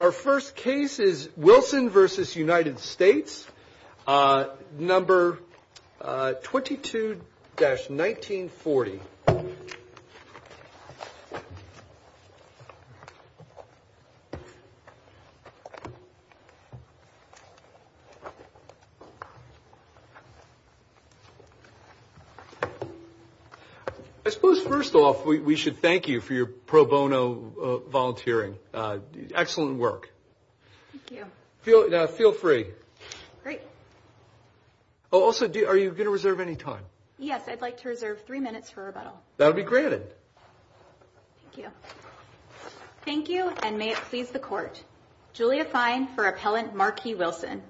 Our first case is Wilson v. United States, number 22-1940. I suppose first off, we should thank you for your pro bono volunteering. Excellent work. Thank you. Feel free. Great. Also, are you going to reserve any time? Yes, I'd like to reserve three minutes for rebuttal. That'll be granted. Thank you. Thank you, and may it please the court. Julia Fine for Appellant Markey-Wilson.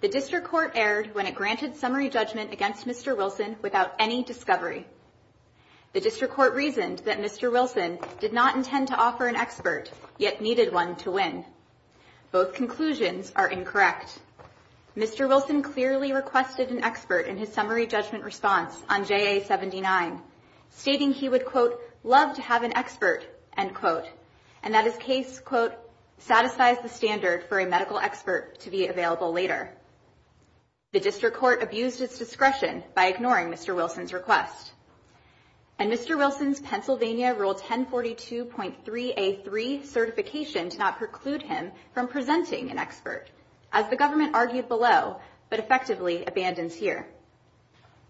The District Court erred when it granted summary judgment against Mr. Wilson without any discovery. The District Court reasoned that Mr. Wilson did not intend to offer an expert, yet needed one to win. Both conclusions are incorrect. Mr. Wilson clearly requested an expert in his summary judgment response on JA-79, stating he would, quote, love to have an expert, end quote, and that his case, quote, satisfies the standard for a medical expert to be available later. The District Court abused its discretion by ignoring Mr. Wilson's request, and Mr. Wilson's Pennsylvania Rule 1042.3A3 certification did not preclude him from presenting an expert, as the government argued below, but effectively abandons here.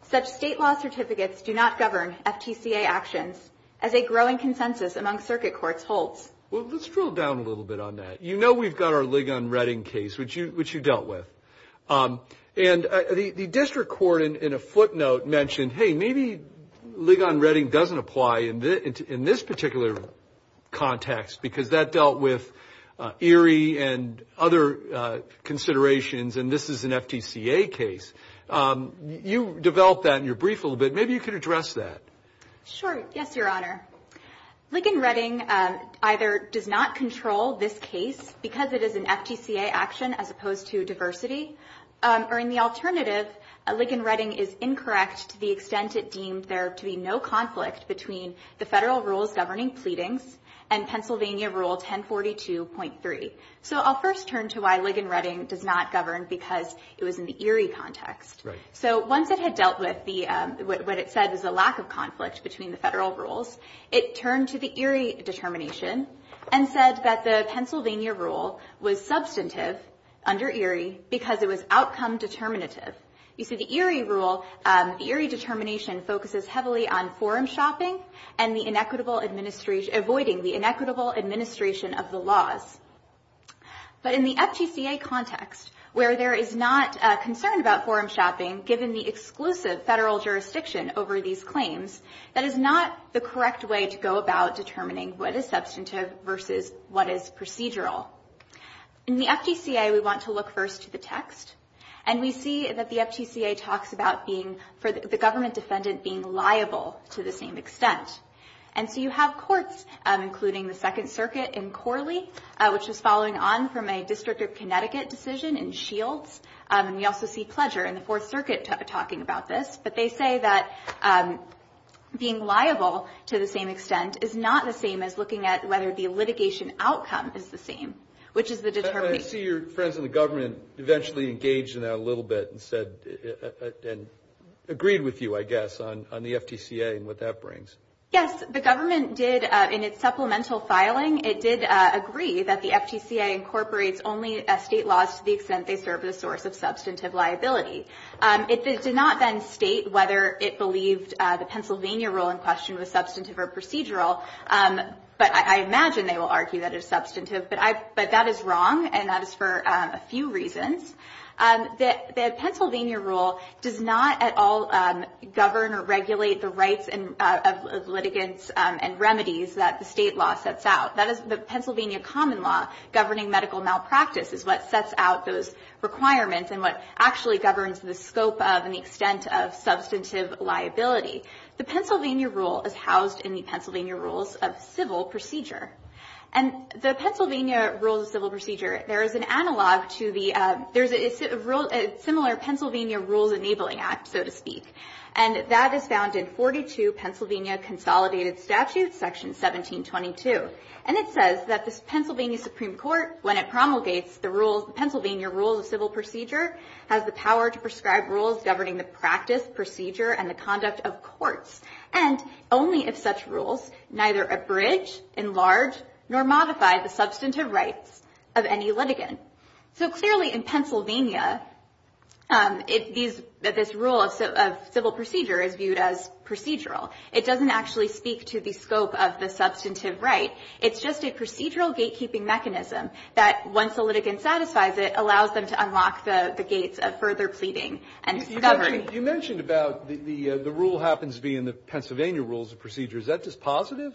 Such state law certificates do not govern FTCA actions, as a growing consensus among circuit courts holds. Well, let's drill down a little bit on that. You know we've got our Ligon-Reading case, which you dealt with. And the District Court, in a footnote, mentioned, hey, maybe Ligon-Reading doesn't apply in this particular context, because that dealt with Erie and other considerations, and this is an FTCA case. You developed that in your brief a little bit. Maybe you could address that. Sure. Yes, Your Honor. Ligon-Reading either does not control this case, because it is an FTCA action as opposed to a diversity, or in the alternative, Ligon-Reading is incorrect to the extent it deemed there to be no conflict between the federal rules governing pleadings and Pennsylvania Rule 1042.3. So I'll first turn to why Ligon-Reading does not govern, because it was in the Erie context. Right. So once it had dealt with what it said was a lack of conflict between the federal rules, it turned to the Erie determination and said that the Pennsylvania rule was substantive under Erie because it was outcome determinative. You see, the Erie rule, the Erie determination focuses heavily on forum shopping and avoiding the inequitable administration of the laws. But in the FTCA context, where there is not a concern about forum shopping, given the exclusive federal jurisdiction over these claims, that is not the correct way to go about determining what is substantive versus what is procedural. In the FTCA, we want to look first to the text, and we see that the FTCA talks about the government defendant being liable to the same extent. And so you have courts, including the Second Circuit in Corley, which was following on from a District of Connecticut decision in Shields. And we also see Pledger in the Fourth Circuit talking about this. But they say that being liable to the same extent is not the same as looking at whether the litigation outcome is the same, which is the determination. I see your friends in the government eventually engaged in that a little bit and agreed with you, I guess, on the FTCA and what that brings. Yes. The government did, in its supplemental filing, it did agree that the FTCA incorporates only state laws to the extent they serve as a source of substantive liability. It did not then state whether it believed the Pennsylvania rule in question was substantive or procedural. But I imagine they will argue that it is substantive. But that is wrong, and that is for a few reasons. The Pennsylvania rule does not at all govern or regulate the rights of litigants and remedies that the state law sets out. The Pennsylvania common law governing medical malpractice is what sets out those requirements and what actually governs the scope of and the extent of substantive liability. The Pennsylvania rule is housed in the Pennsylvania rules of civil procedure. And the Pennsylvania rules of civil procedure, there is a similar Pennsylvania rules enabling act, so to speak. And that is found in 42 Pennsylvania consolidated statutes, section 1722. And it says that the Pennsylvania Supreme Court, when it promulgates the Pennsylvania rules of civil procedure, has the power to prescribe rules governing the practice, procedure, and the conduct of courts. And only if such rules neither abridge, enlarge, nor modify the substantive rights of any litigant. So clearly in Pennsylvania, this rule of civil procedure is viewed as procedural. It doesn't actually speak to the scope of the substantive right. It's just a procedural gatekeeping mechanism that, once a litigant satisfies it, allows them to unlock the gates of further pleading and discovery. Breyer, you mentioned about the rule happens to be in the Pennsylvania rules of procedure. Is that dispositive?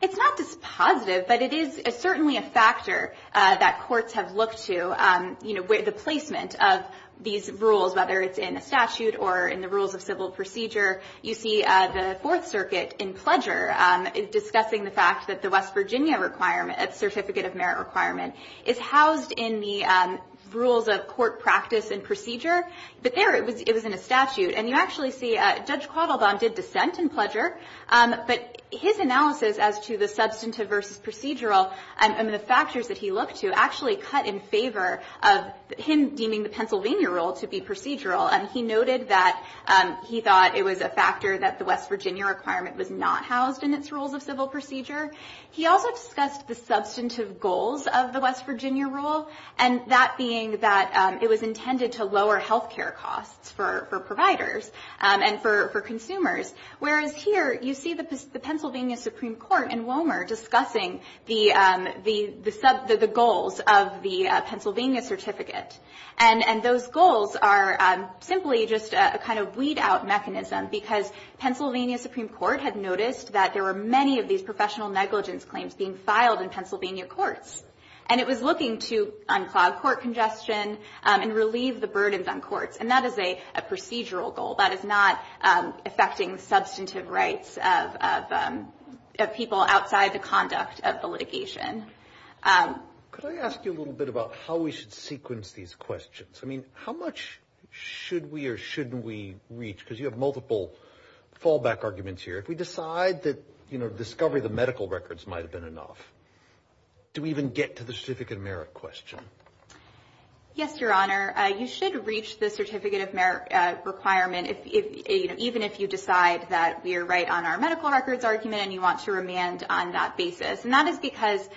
It's not dispositive, but it is certainly a factor that courts have looked to, you know, with the placement of these rules, whether it's in a statute or in the rules of civil procedure. You see the Fourth Circuit in Pledger discussing the fact that the West Virginia requirement, certificate of merit requirement, is housed in the rules of court practice and procedure. But there it was in a statute. And you actually see Judge Quattlebaum did dissent in Pledger. But his analysis as to the substantive versus procedural and the factors that he looked to actually cut in favor of him deeming the Pennsylvania rule to be procedural. And he noted that he thought it was a factor that the West Virginia requirement was not housed in its rules of civil procedure. He also discussed the substantive goals of the West Virginia rule, and that being that it was intended to lower health care costs for providers and for consumers. Whereas here, you see the Pennsylvania Supreme Court in Womer discussing the goals of the Pennsylvania certificate. And those goals are simply just a kind of weed-out mechanism because Pennsylvania Supreme Court had noticed that there were many of these professional negligence claims being filed in Pennsylvania courts. And it was looking to unclog court congestion and relieve the burdens on courts. And that is a procedural goal. That is not affecting substantive rights of people outside the conduct of the litigation. Could I ask you a little bit about how we should sequence these questions? I mean, how much should we or shouldn't we reach? Because you have multiple fallback arguments here. If we decide that discovery of the medical records might have been enough, do we even get to the certificate of merit question? Yes, Your Honor. You should reach the certificate of merit requirement even if you decide that we are right on our medical records argument and you want to remand on that basis. And that is because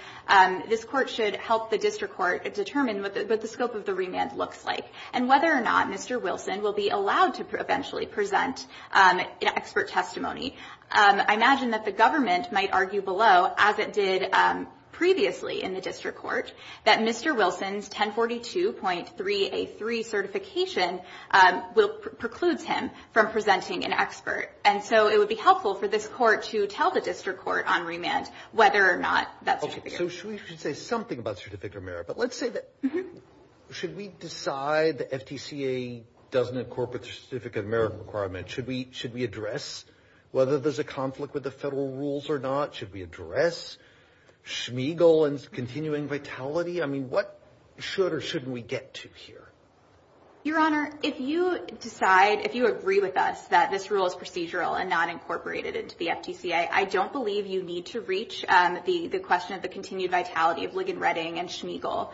this Court should help the district court determine what the scope of the remand looks like and whether or not Mr. Wilson will be allowed to eventually present an expert testimony. I imagine that the government might argue below, as it did previously in the district court, that Mr. Wilson's 1042.3A3 certification precludes him from presenting an expert. And so it would be helpful for this court to tell the district court on remand whether or not that certificate. So we should say something about certificate of merit. But let's say that should we decide the FTCA doesn't incorporate the certificate of merit requirement? Should we address whether there's a conflict with the federal rules or not? Should we address Schmiegel and continuing vitality? I mean, what should or shouldn't we get to here? Your Honor, if you decide, if you agree with us that this rule is procedural and not incorporated into the FTCA, I don't believe you need to reach the question of the continued vitality of Ligonretting and Schmiegel.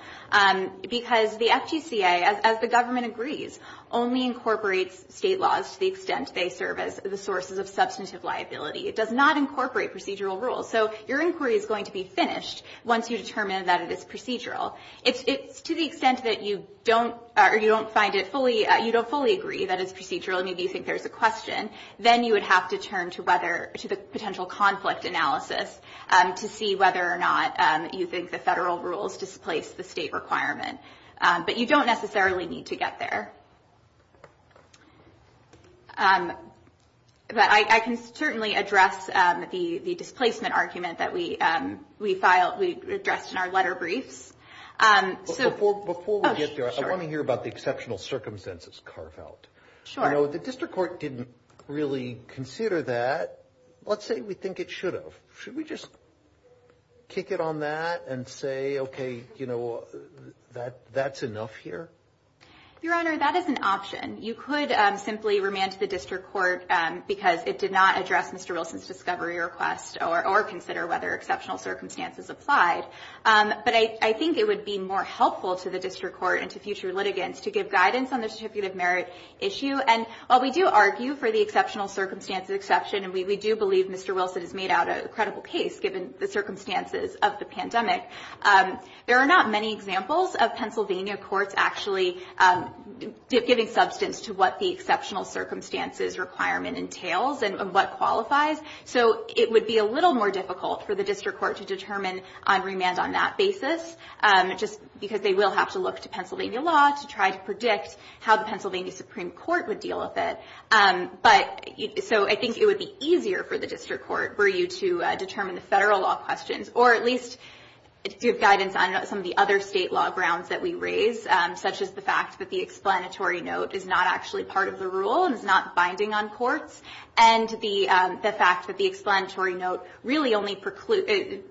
Because the FTCA, as the government agrees, only incorporates state laws to the extent they serve as the sources of substantive liability. It does not incorporate procedural rules. So your inquiry is going to be finished once you determine that it is procedural. If it's to the extent that you don't find it fully, you don't fully agree that it's procedural and maybe you think there's a question, then you would have to turn to the potential conflict analysis to see whether or not you think the federal rules displace the state requirement. But you don't necessarily need to get there. But I can certainly address the displacement argument that we filed, we addressed in our letter briefs. Before we get there, I want to hear about the exceptional circumstances carve out. Sure. You know, the district court didn't really consider that. Let's say we think it should have. Should we just kick it on that and say, okay, you know, that's enough here? Your Honor, that is an option. You could simply remand to the district court because it did not address Mr. Wilson's discovery request or consider whether exceptional circumstances applied. But I think it would be more helpful to the district court and to future litigants to give guidance on the certificate of merit issue. And while we do argue for the exceptional circumstances exception, and we do believe Mr. Wilson has made out a credible case given the circumstances of the pandemic, there are not many examples of Pennsylvania courts actually giving substance to what the exceptional circumstances requirement entails and what qualifies. So it would be a little more difficult for the district court to determine on remand on that basis just because they will have to look to Pennsylvania law to try to predict how the Pennsylvania Supreme Court would deal with it. So I think it would be easier for the district court for you to determine the federal law questions or at least give guidance on some of the other state law grounds that we raise, such as the fact that the explanatory note is not actually part of the rule and is not binding on courts. And the fact that the explanatory note really only precludes,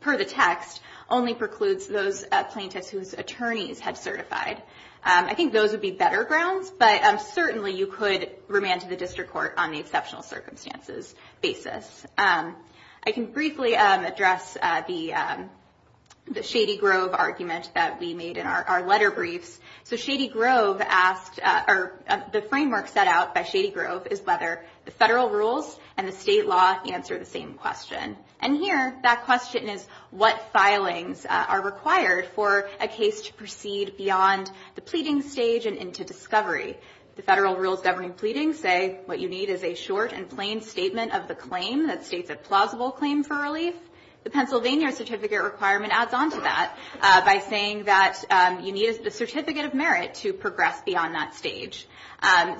per the text, only precludes those plaintiffs whose attorneys have certified. I think those would be better grounds, but certainly you could remand to the district court on the exceptional circumstances basis. I can briefly address the Shady Grove argument that we made in our letter briefs. So Shady Grove asked, or the framework set out by Shady Grove is whether the federal rules and the state law answer the same question. And here that question is what filings are required for a case to proceed beyond the pleading stage and into discovery. The federal rules governing pleading say what you need is a short and plain statement of the claim that states a plausible claim for relief. The Pennsylvania certificate requirement adds on to that by saying that you need the certificate of merit to progress beyond that stage.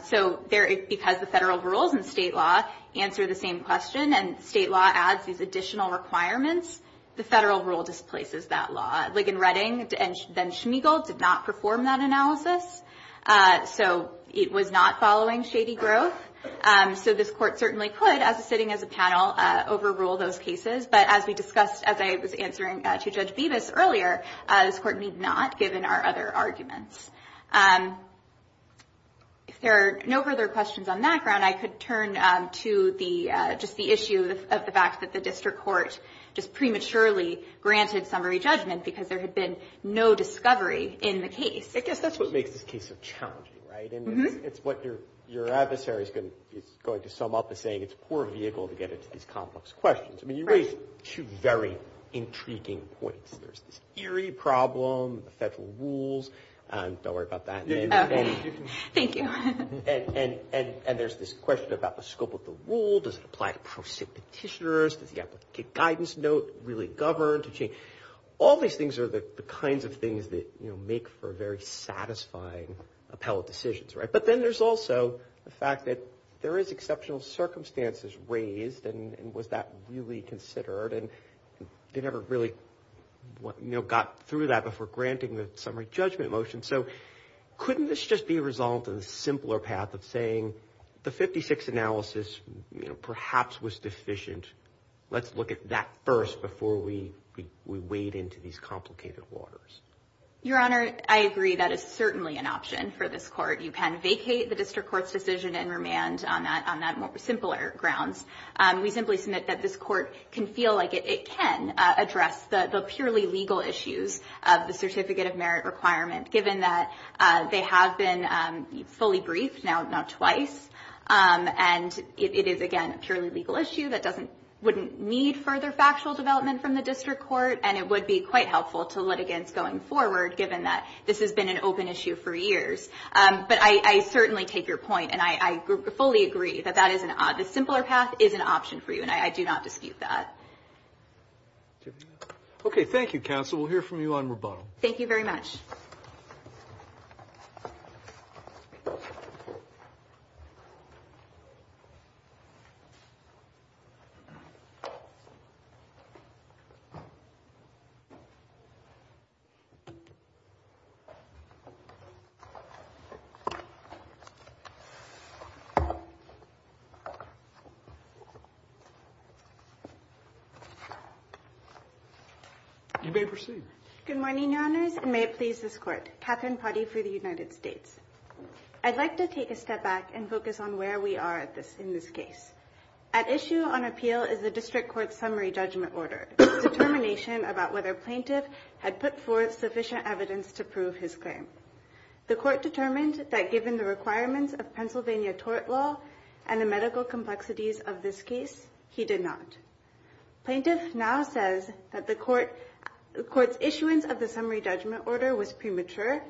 So because the federal rules and state law answer the same question and state law adds these additional requirements, the federal rule displaces that law. Ligon Redding and Schmeigel did not perform that analysis. So it was not following Shady Grove. So this court certainly could, sitting as a panel, overrule those cases. But as we discussed, as I was answering to Judge Bevis earlier, this court need not, given our other arguments. If there are no further questions on that ground, I could turn to just the issue of the fact that the district court just prematurely granted summary judgment because there had been no discovery in the case. I guess that's what makes this case so challenging, right? And it's what your adversary is going to sum up as saying it's a poor vehicle to get into these complex questions. I mean, you raise two very intriguing points. There's this eerie problem with the federal rules. Don't worry about that. Thank you. And there's this question about the scope of the rule. Does it apply to pro-state petitioners? Does the applicant guidance note really govern to change? All these things are the kinds of things that make for very satisfying appellate decisions, right? But then there's also the fact that there is exceptional circumstances raised. And was that really considered? And they never really got through that before granting the summary judgment motion. So couldn't this just be a result of the simpler path of saying the 56 analysis perhaps was deficient? Let's look at that first before we wade into these complicated waters. Your Honor, I agree that is certainly an option for this court. You can vacate the district court's decision and remand on that simpler grounds. We simply submit that this court can feel like it can address the purely legal issues of the certificate of merit requirement, given that they have been fully briefed, now not twice. And it is, again, a purely legal issue that wouldn't need further factual development from the district court, and it would be quite helpful to litigants going forward, given that this has been an open issue for years. But I certainly take your point, and I fully agree that that is an odd. A simpler path is an option for you, and I do not dispute that. Okay, thank you, counsel. We'll hear from you on rebuttal. Thank you very much. You may proceed. Good morning, Your Honors, and may it please this Court. Katherine Potty for the United States. I'd like to take a step back and focus on where we are in this case. At issue on appeal is the district court's summary judgment order, a determination about whether a plaintiff had put forth sufficient evidence to prove his claim. The court determined that given the requirements of Pennsylvania tort law and the medical complexities of this case, he did not. Plaintiff now says that the court's issuance of the summary judgment order was premature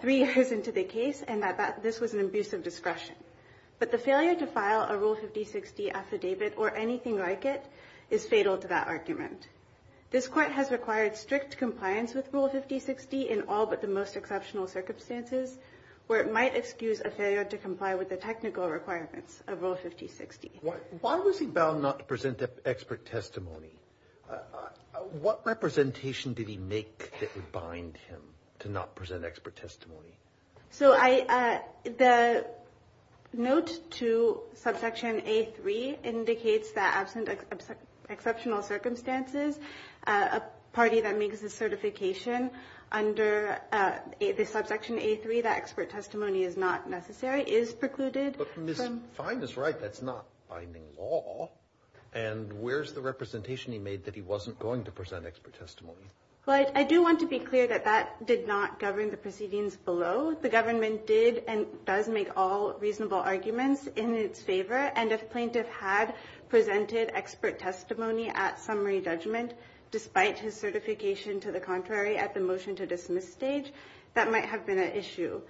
three years into the case and that this was an abuse of discretion. But the failure to file a Rule 5060 affidavit or anything like it is fatal to that argument. This court has required strict compliance with Rule 5060 in all but the most exceptional circumstances where it might excuse a failure to comply with the technical requirements of Rule 5060. Why was he bound not to present expert testimony? What representation did he make that would bind him to not present expert testimony? So the note to subsection A3 indicates that absent exceptional circumstances, a party that makes a certification under the subsection A3, that expert testimony is not necessary, is precluded. But Ms. Fine is right. That's not binding law. And where's the representation he made that he wasn't going to present expert testimony? Well, I do want to be clear that that did not govern the proceedings below. The government did and does make all reasonable arguments in its favor. And if Plaintiff had presented expert testimony at summary judgment, despite his certification to the contrary at the motion to dismiss stage, that might have been an issue.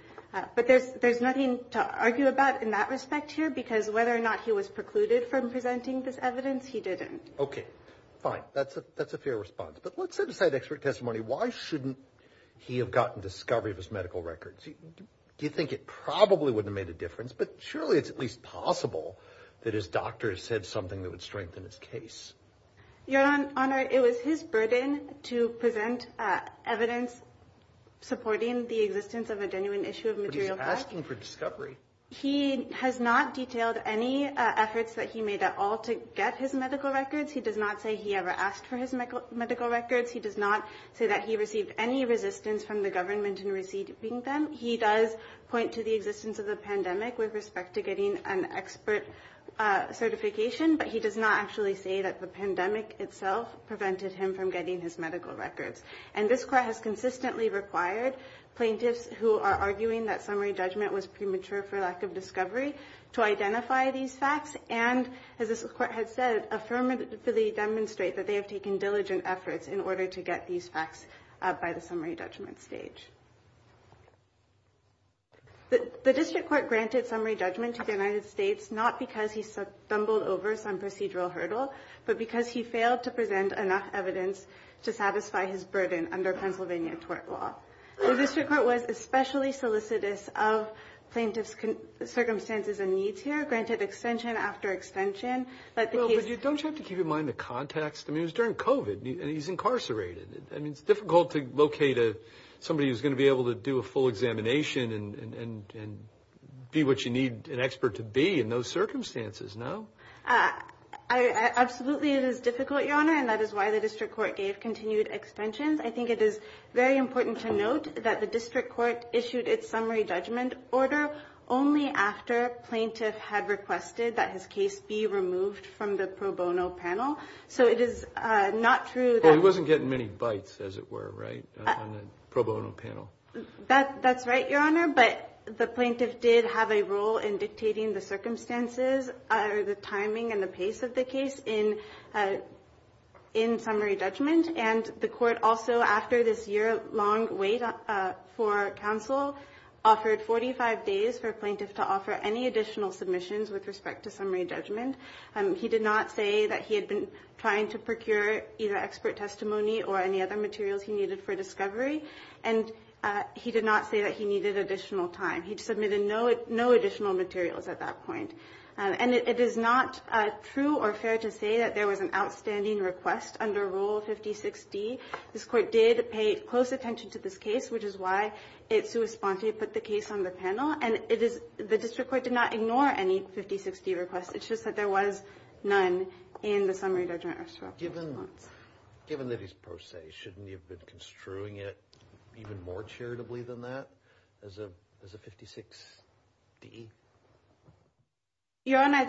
But there's nothing to argue about in that respect here, because whether or not he was precluded from presenting this evidence, he didn't. Okay. Fine. That's a fair response. But let's set aside expert testimony. Why shouldn't he have gotten discovery of his medical records? Do you think it probably would have made a difference? But surely it's at least possible that his doctor said something that would strengthen his case. Your Honor, it was his burden to present evidence supporting the existence of a genuine issue of material facts. But he's asking for discovery. He has not detailed any efforts that he made at all to get his medical records. He does not say he ever asked for his medical records. He does not say that he received any resistance from the government in receiving them. He does point to the existence of the pandemic with respect to getting an expert certification. But he does not actually say that the pandemic itself prevented him from getting his medical records. And this Court has consistently required plaintiffs who are arguing that summary judgment was premature for lack of discovery to identify these facts. And, as this Court has said, affirmatively demonstrate that they have taken diligent efforts in order to get these facts up by the summary judgment stage. The District Court granted summary judgment to the United States not because he stumbled over some procedural hurdle, but because he failed to present enough evidence to satisfy his burden under Pennsylvania tort law. The District Court was especially solicitous of plaintiffs' circumstances and needs here, and granted extension after extension. But don't you have to keep in mind the context? I mean, it was during COVID, and he's incarcerated. I mean, it's difficult to locate somebody who's going to be able to do a full examination and be what you need an expert to be in those circumstances, no? Absolutely it is difficult, Your Honor, and that is why the District Court gave continued extensions. I think it is very important to note that the District Court issued its summary judgment order only after a plaintiff had requested that his case be removed from the pro bono panel. So it is not true that- Well, he wasn't getting many bites, as it were, right, on the pro bono panel. That's right, Your Honor, but the plaintiff did have a role in dictating the circumstances or the timing and the pace of the case in summary judgment. And the court also, after this year-long wait for counsel, offered 45 days for a plaintiff to offer any additional submissions with respect to summary judgment. He did not say that he had been trying to procure either expert testimony or any other materials he needed for discovery, and he did not say that he needed additional time. He submitted no additional materials at that point. And it is not true or fair to say that there was an outstanding request under Rule 56D. This court did pay close attention to this case, which is why it so responsibly put the case on the panel, and the District Court did not ignore any 56D requests. It's just that there was none in the summary judgment response. Given that he's pro se, shouldn't he have been construing it even more charitably than that as a 56D? Your Honor,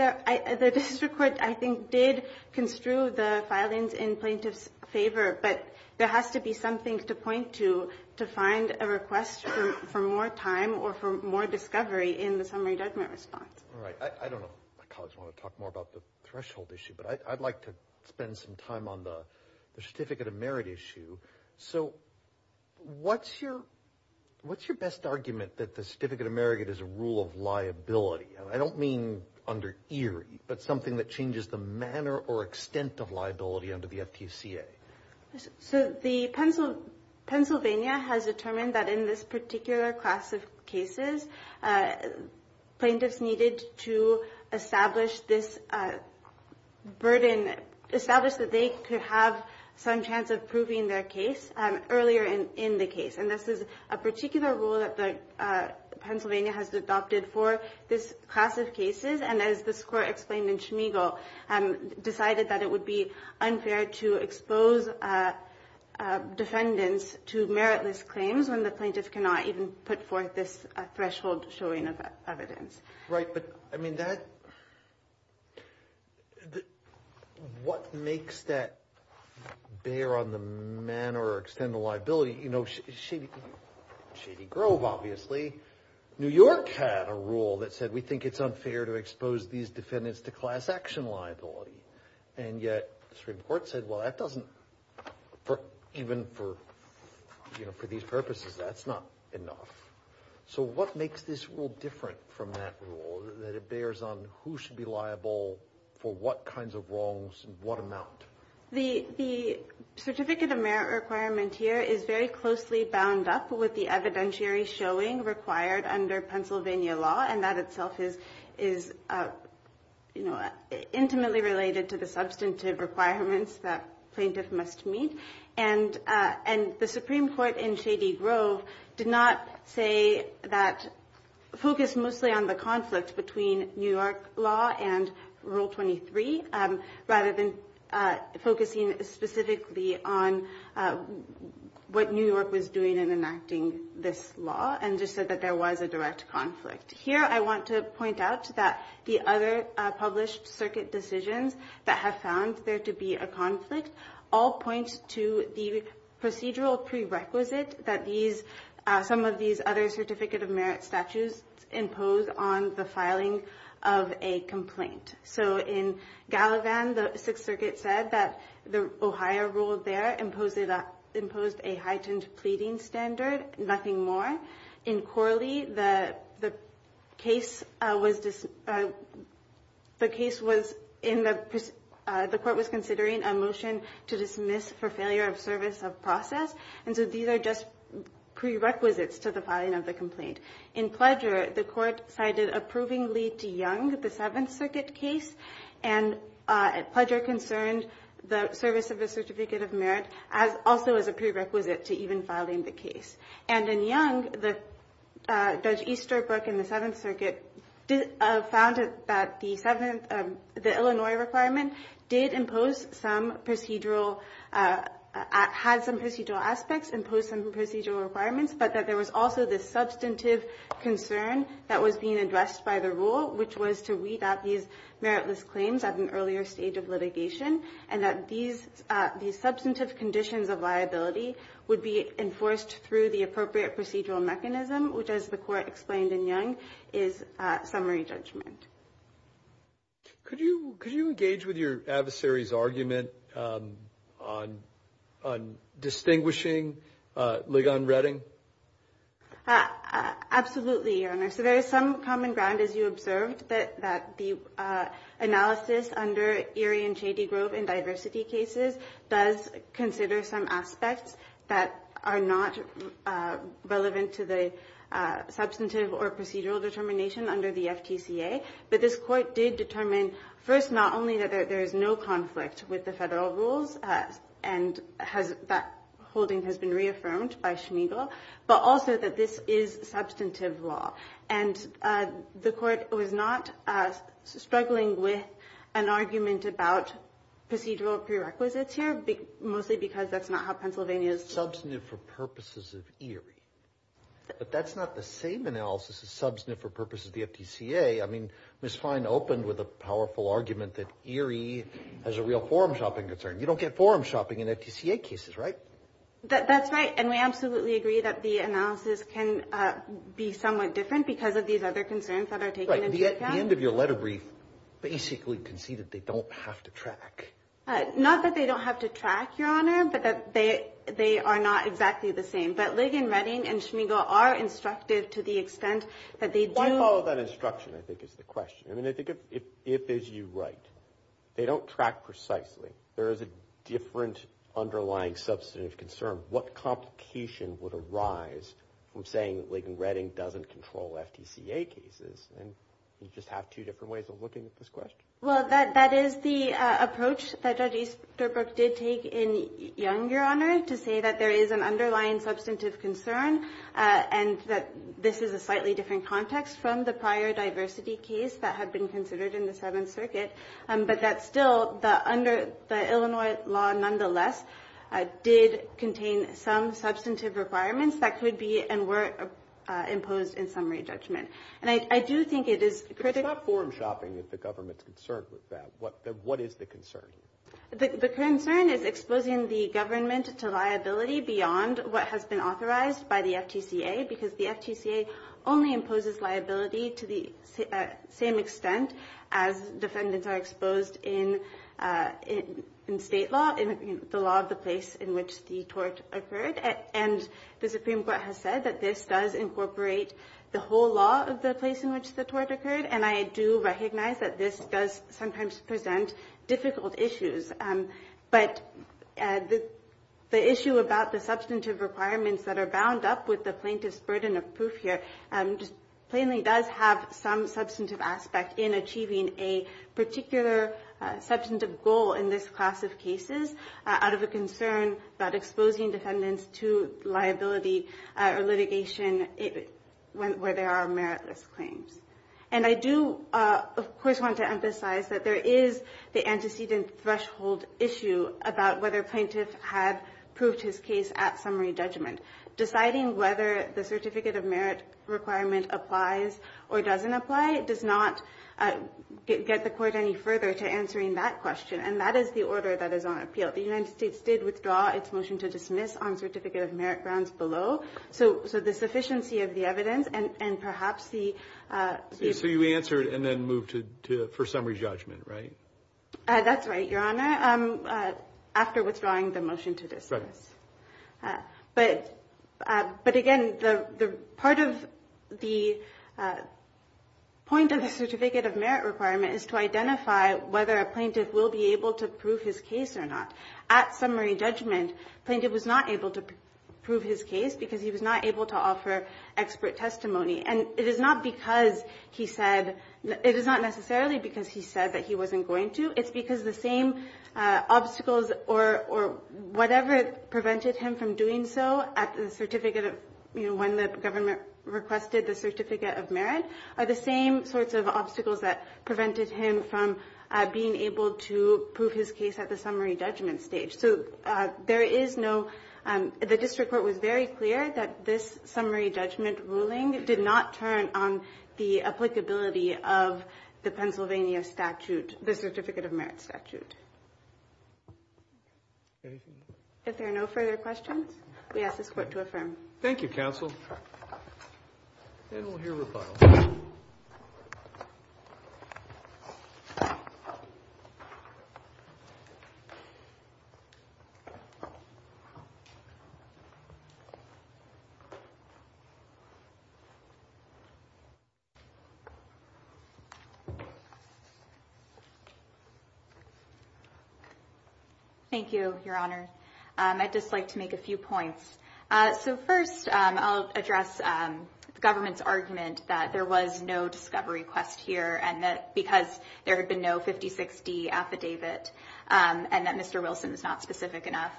the District Court, I think, did construe the filings in plaintiff's favor, but there has to be something to point to to find a request for more time or for more discovery in the summary judgment response. All right. I don't know if my colleagues want to talk more about the threshold issue, but I'd like to spend some time on the Certificate of Merit issue. So what's your best argument that the Certificate of Merit is a rule of liability? I don't mean under Erie, but something that changes the manner or extent of liability under the FTCA. So Pennsylvania has determined that in this particular class of cases, plaintiffs needed to establish this burden, establish that they could have some chance of proving their case earlier in the case. And this is a particular rule that Pennsylvania has adopted for this class of cases. And as this Court explained in Schmeigel, decided that it would be unfair to expose defendants to meritless claims when the plaintiff cannot even put forth this threshold showing of evidence. Right. But I mean, what makes that bear on the manner or extent of liability? You know, Shady Grove, obviously. New York had a rule that said, we think it's unfair to expose these defendants to class action liability. And yet the Supreme Court said, well, that doesn't, even for these purposes, that's not enough. So what makes this rule different from that rule, that it bears on who should be liable for what kinds of wrongs and what amount? The Certificate of Merit requirement here is very closely bound up with the evidentiary showing required under Pennsylvania law. And that itself is, you know, intimately related to the substantive requirements that plaintiff must meet. And the Supreme Court in Shady Grove did not say that, focus mostly on the conflict between New York law and Rule 23, rather than focusing specifically on what New York was doing in enacting this law. And just said that there was a direct conflict. Here, I want to point out that the other published circuit decisions that have found there to be a conflict, all point to the procedural prerequisite that these, some of these other Certificate of Merit statutes impose on the filing of a complaint. So in Gallivan, the Sixth Circuit said that the Ohio rule there imposed a heightened pleading standard, nothing more. In Corley, the case was in the, the court was considering a motion to dismiss for failure of service of process. And so these are just prerequisites to the filing of the complaint. In Pledger, the court cited approvingly to Young, the Seventh Circuit case, and Pledger concerned the service of a Certificate of Merit as also as a prerequisite to even filing the case. And in Young, the Judge Easterbrook in the Seventh Circuit did, found that the seventh, the Illinois requirement did impose some procedural, had some procedural aspects, imposed some procedural requirements, but that there was also this substantive concern that was being addressed by the rule, which was to weed out these meritless claims at an earlier stage of litigation, and that these substantive conditions of liability would be enforced through the appropriate procedural mechanism, which as the court explained in Young, is summary judgment. Could you, could you engage with your adversary's argument on, on distinguishing Ligon-Reading? Absolutely, Your Honor. So there is some common ground, as you observed, that the analysis under Erie and Shady Grove in diversity cases does consider some aspects that are not relevant to the But this court did determine, first, not only that there is no conflict with the federal rules, and that holding has been reaffirmed by Schmiegel, but also that this is substantive law. And the court was not struggling with an argument about procedural prerequisites here, mostly because that's not how Pennsylvania is. Substantive for purposes of Erie. But that's not the same analysis as substantive for purposes of the FTCA. I mean, Ms. Fine opened with a powerful argument that Erie has a real forum shopping concern. You don't get forum shopping in FTCA cases, right? That's right. And we absolutely agree that the analysis can be somewhat different because of these other concerns that are taken into account. Right. The end of your letter brief basically conceded they don't have to track. Not that they don't have to track, Your Honor, but that they, they are not exactly the same. But Ligon Redding and Schmiegel are instructive to the extent that they do. Why follow that instruction, I think, is the question. I mean, I think if it is you right, they don't track precisely. There is a different underlying substantive concern. What complication would arise from saying that Ligon Redding doesn't control FTCA cases? And you just have two different ways of looking at this question. Well, that is the approach that Judge Easterbrook did take in Young, Your Honor, to say that there is an underlying substantive concern and that this is a slightly different context from the prior diversity case that had been considered in the Seventh Circuit. But that still, under the Illinois law, nonetheless, did contain some substantive requirements that could be and were imposed in summary judgment. And I do think it is critical. Without form shopping, if the government is concerned with that, what is the concern? The concern is exposing the government to liability beyond what has been authorized by the FTCA because the FTCA only imposes liability to the same extent as defendants are exposed in state law, in the law of the place in which the tort occurred. And the Supreme Court has said that this does incorporate the whole law of the place in which the tort occurred, and I do recognize that this does sometimes present difficult issues. But the issue about the substantive requirements that are bound up with the plaintiff's burden of proof here plainly does have some substantive aspect in achieving a particular substantive goal in this class of cases out of a concern about exposing defendants to liability or litigation where there are meritless claims. And I do, of course, want to emphasize that there is the antecedent threshold issue about whether a plaintiff had proved his case at summary judgment. Deciding whether the certificate of merit requirement applies or doesn't apply does not get the court any further to answering that question, and that is the order that is on appeal. The United States did withdraw its motion to dismiss on certificate of merit grounds below, so the sufficiency of the evidence and perhaps the- So you answered and then moved to first summary judgment, right? That's right, Your Honor, after withdrawing the motion to dismiss. But again, part of the point of the certificate of merit requirement is to identify whether a plaintiff will be able to prove his case or not. At summary judgment, the plaintiff was not able to prove his case because he was not able to offer expert testimony. And it is not because he said- It is not necessarily because he said that he wasn't going to. It's because the same obstacles or whatever prevented him from doing so at the certificate of- when the government requested the certificate of merit are the same sorts of obstacles that prevented him from being able to prove his case at the summary judgment stage. So there is no- The district court was very clear that this summary judgment ruling did not turn on the applicability of the Pennsylvania statute, the certificate of merit statute. If there are no further questions, we ask this Court to affirm. Thank you, counsel. And we'll hear rebuttal. Thank you, Your Honor. I'd just like to make a few points. So first, I'll address the government's argument that there was no discovery request here and that because there had been no 56D affidavit and that Mr. Wilson is not specific enough.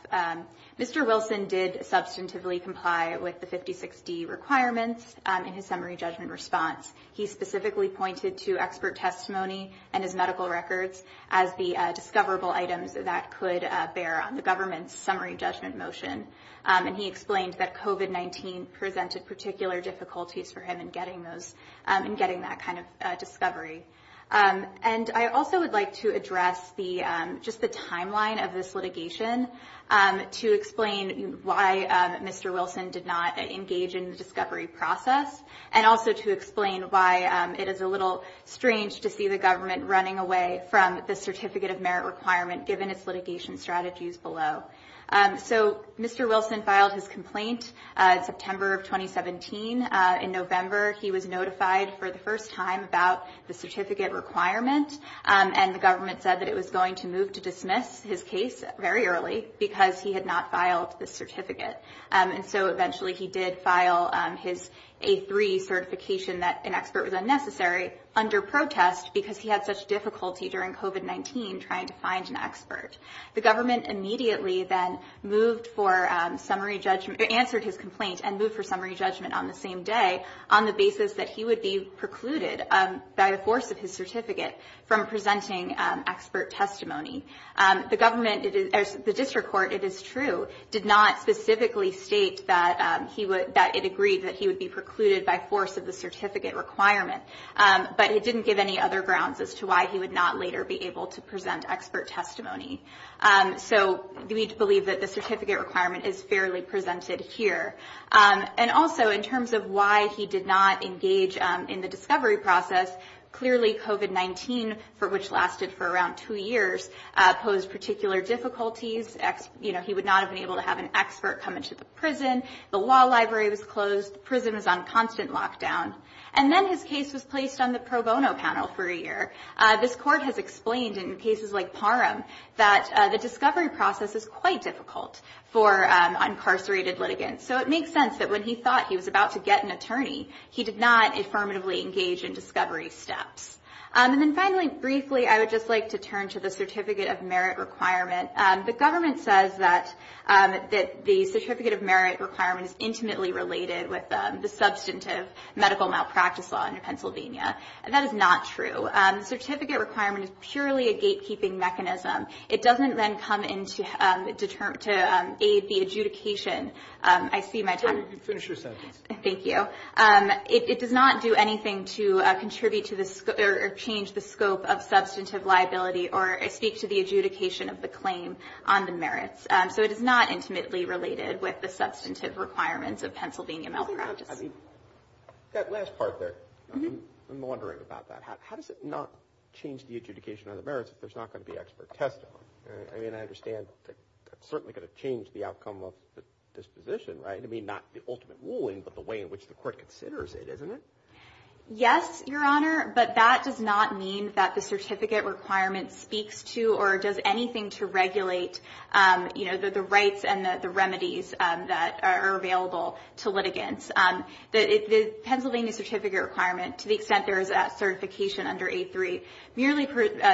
Mr. Wilson did substantively comply with the 56D requirements in his summary judgment response. He specifically pointed to expert testimony and his medical records as the discoverable items that could bear on the government's summary judgment motion. And he explained that COVID-19 presented particular difficulties for him in getting those- in getting that kind of discovery. And I also would like to address just the timeline of this litigation to explain why Mr. Wilson did not engage in the discovery process and also to explain why it is a little strange to see the government running away from the certificate of merit requirement given its litigation strategies below. So Mr. Wilson filed his complaint in September of 2017. In November, he was notified for the first time about the certificate requirement and the government said that it was going to move to dismiss his case very early because he had not filed the certificate. And so eventually he did file his A3 certification that an expert was unnecessary under protest because he had such difficulty during COVID-19 trying to find an expert. The government immediately then moved for summary judgment- the same day on the basis that he would be precluded by the force of his certificate from presenting expert testimony. The government- the district court, it is true, did not specifically state that he would- that it agreed that he would be precluded by force of the certificate requirement. But it didn't give any other grounds as to why he would not later be able to present expert testimony. So we believe that the certificate requirement is fairly presented here. And also in terms of why he did not engage in the discovery process, clearly COVID-19, for which lasted for around two years, posed particular difficulties. You know, he would not have been able to have an expert come into the prison. The law library was closed. The prison was on constant lockdown. And then his case was placed on the pro bono panel for a year. This court has explained in cases like Parham that the discovery process is quite difficult for incarcerated litigants. So it makes sense that when he thought he was about to get an attorney, he did not affirmatively engage in discovery steps. And then finally, briefly, I would just like to turn to the certificate of merit requirement. The government says that the certificate of merit requirement is intimately related with the substantive medical malpractice law in Pennsylvania. And that is not true. The certificate requirement is purely a gatekeeping mechanism. It doesn't then come in to aid the adjudication. I see my time. Finish your sentence. Thank you. It does not do anything to contribute or change the scope of substantive liability or speak to the adjudication of the claim on the merits. So it is not intimately related with the substantive requirements of Pennsylvania malpractice. That last part there, I'm wondering about that. How does it not change the adjudication on the merits if there's not going to be expert testimony? I mean, I understand it's certainly going to change the outcome of the disposition, right? I mean, not the ultimate ruling, but the way in which the court considers it, isn't it? Yes, Your Honor, but that does not mean that the certificate requirement speaks to or does anything to regulate the rights and the remedies that are available to litigants. The Pennsylvania certificate requirement, to the extent there is a certification under 8-3, merely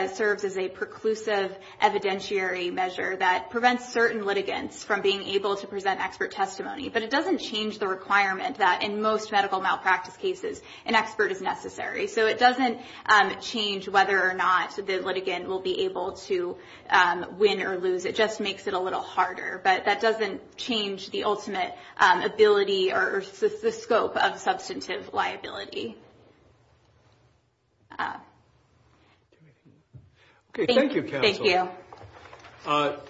serves as a preclusive evidentiary measure that prevents certain litigants from being able to present expert testimony. But it doesn't change the requirement that in most medical malpractice cases an expert is necessary. So it doesn't change whether or not the litigant will be able to win or lose. It just makes it a little harder. But that doesn't change the ultimate ability or the scope of substantive liability. Okay, thank you, counsel. Thank you.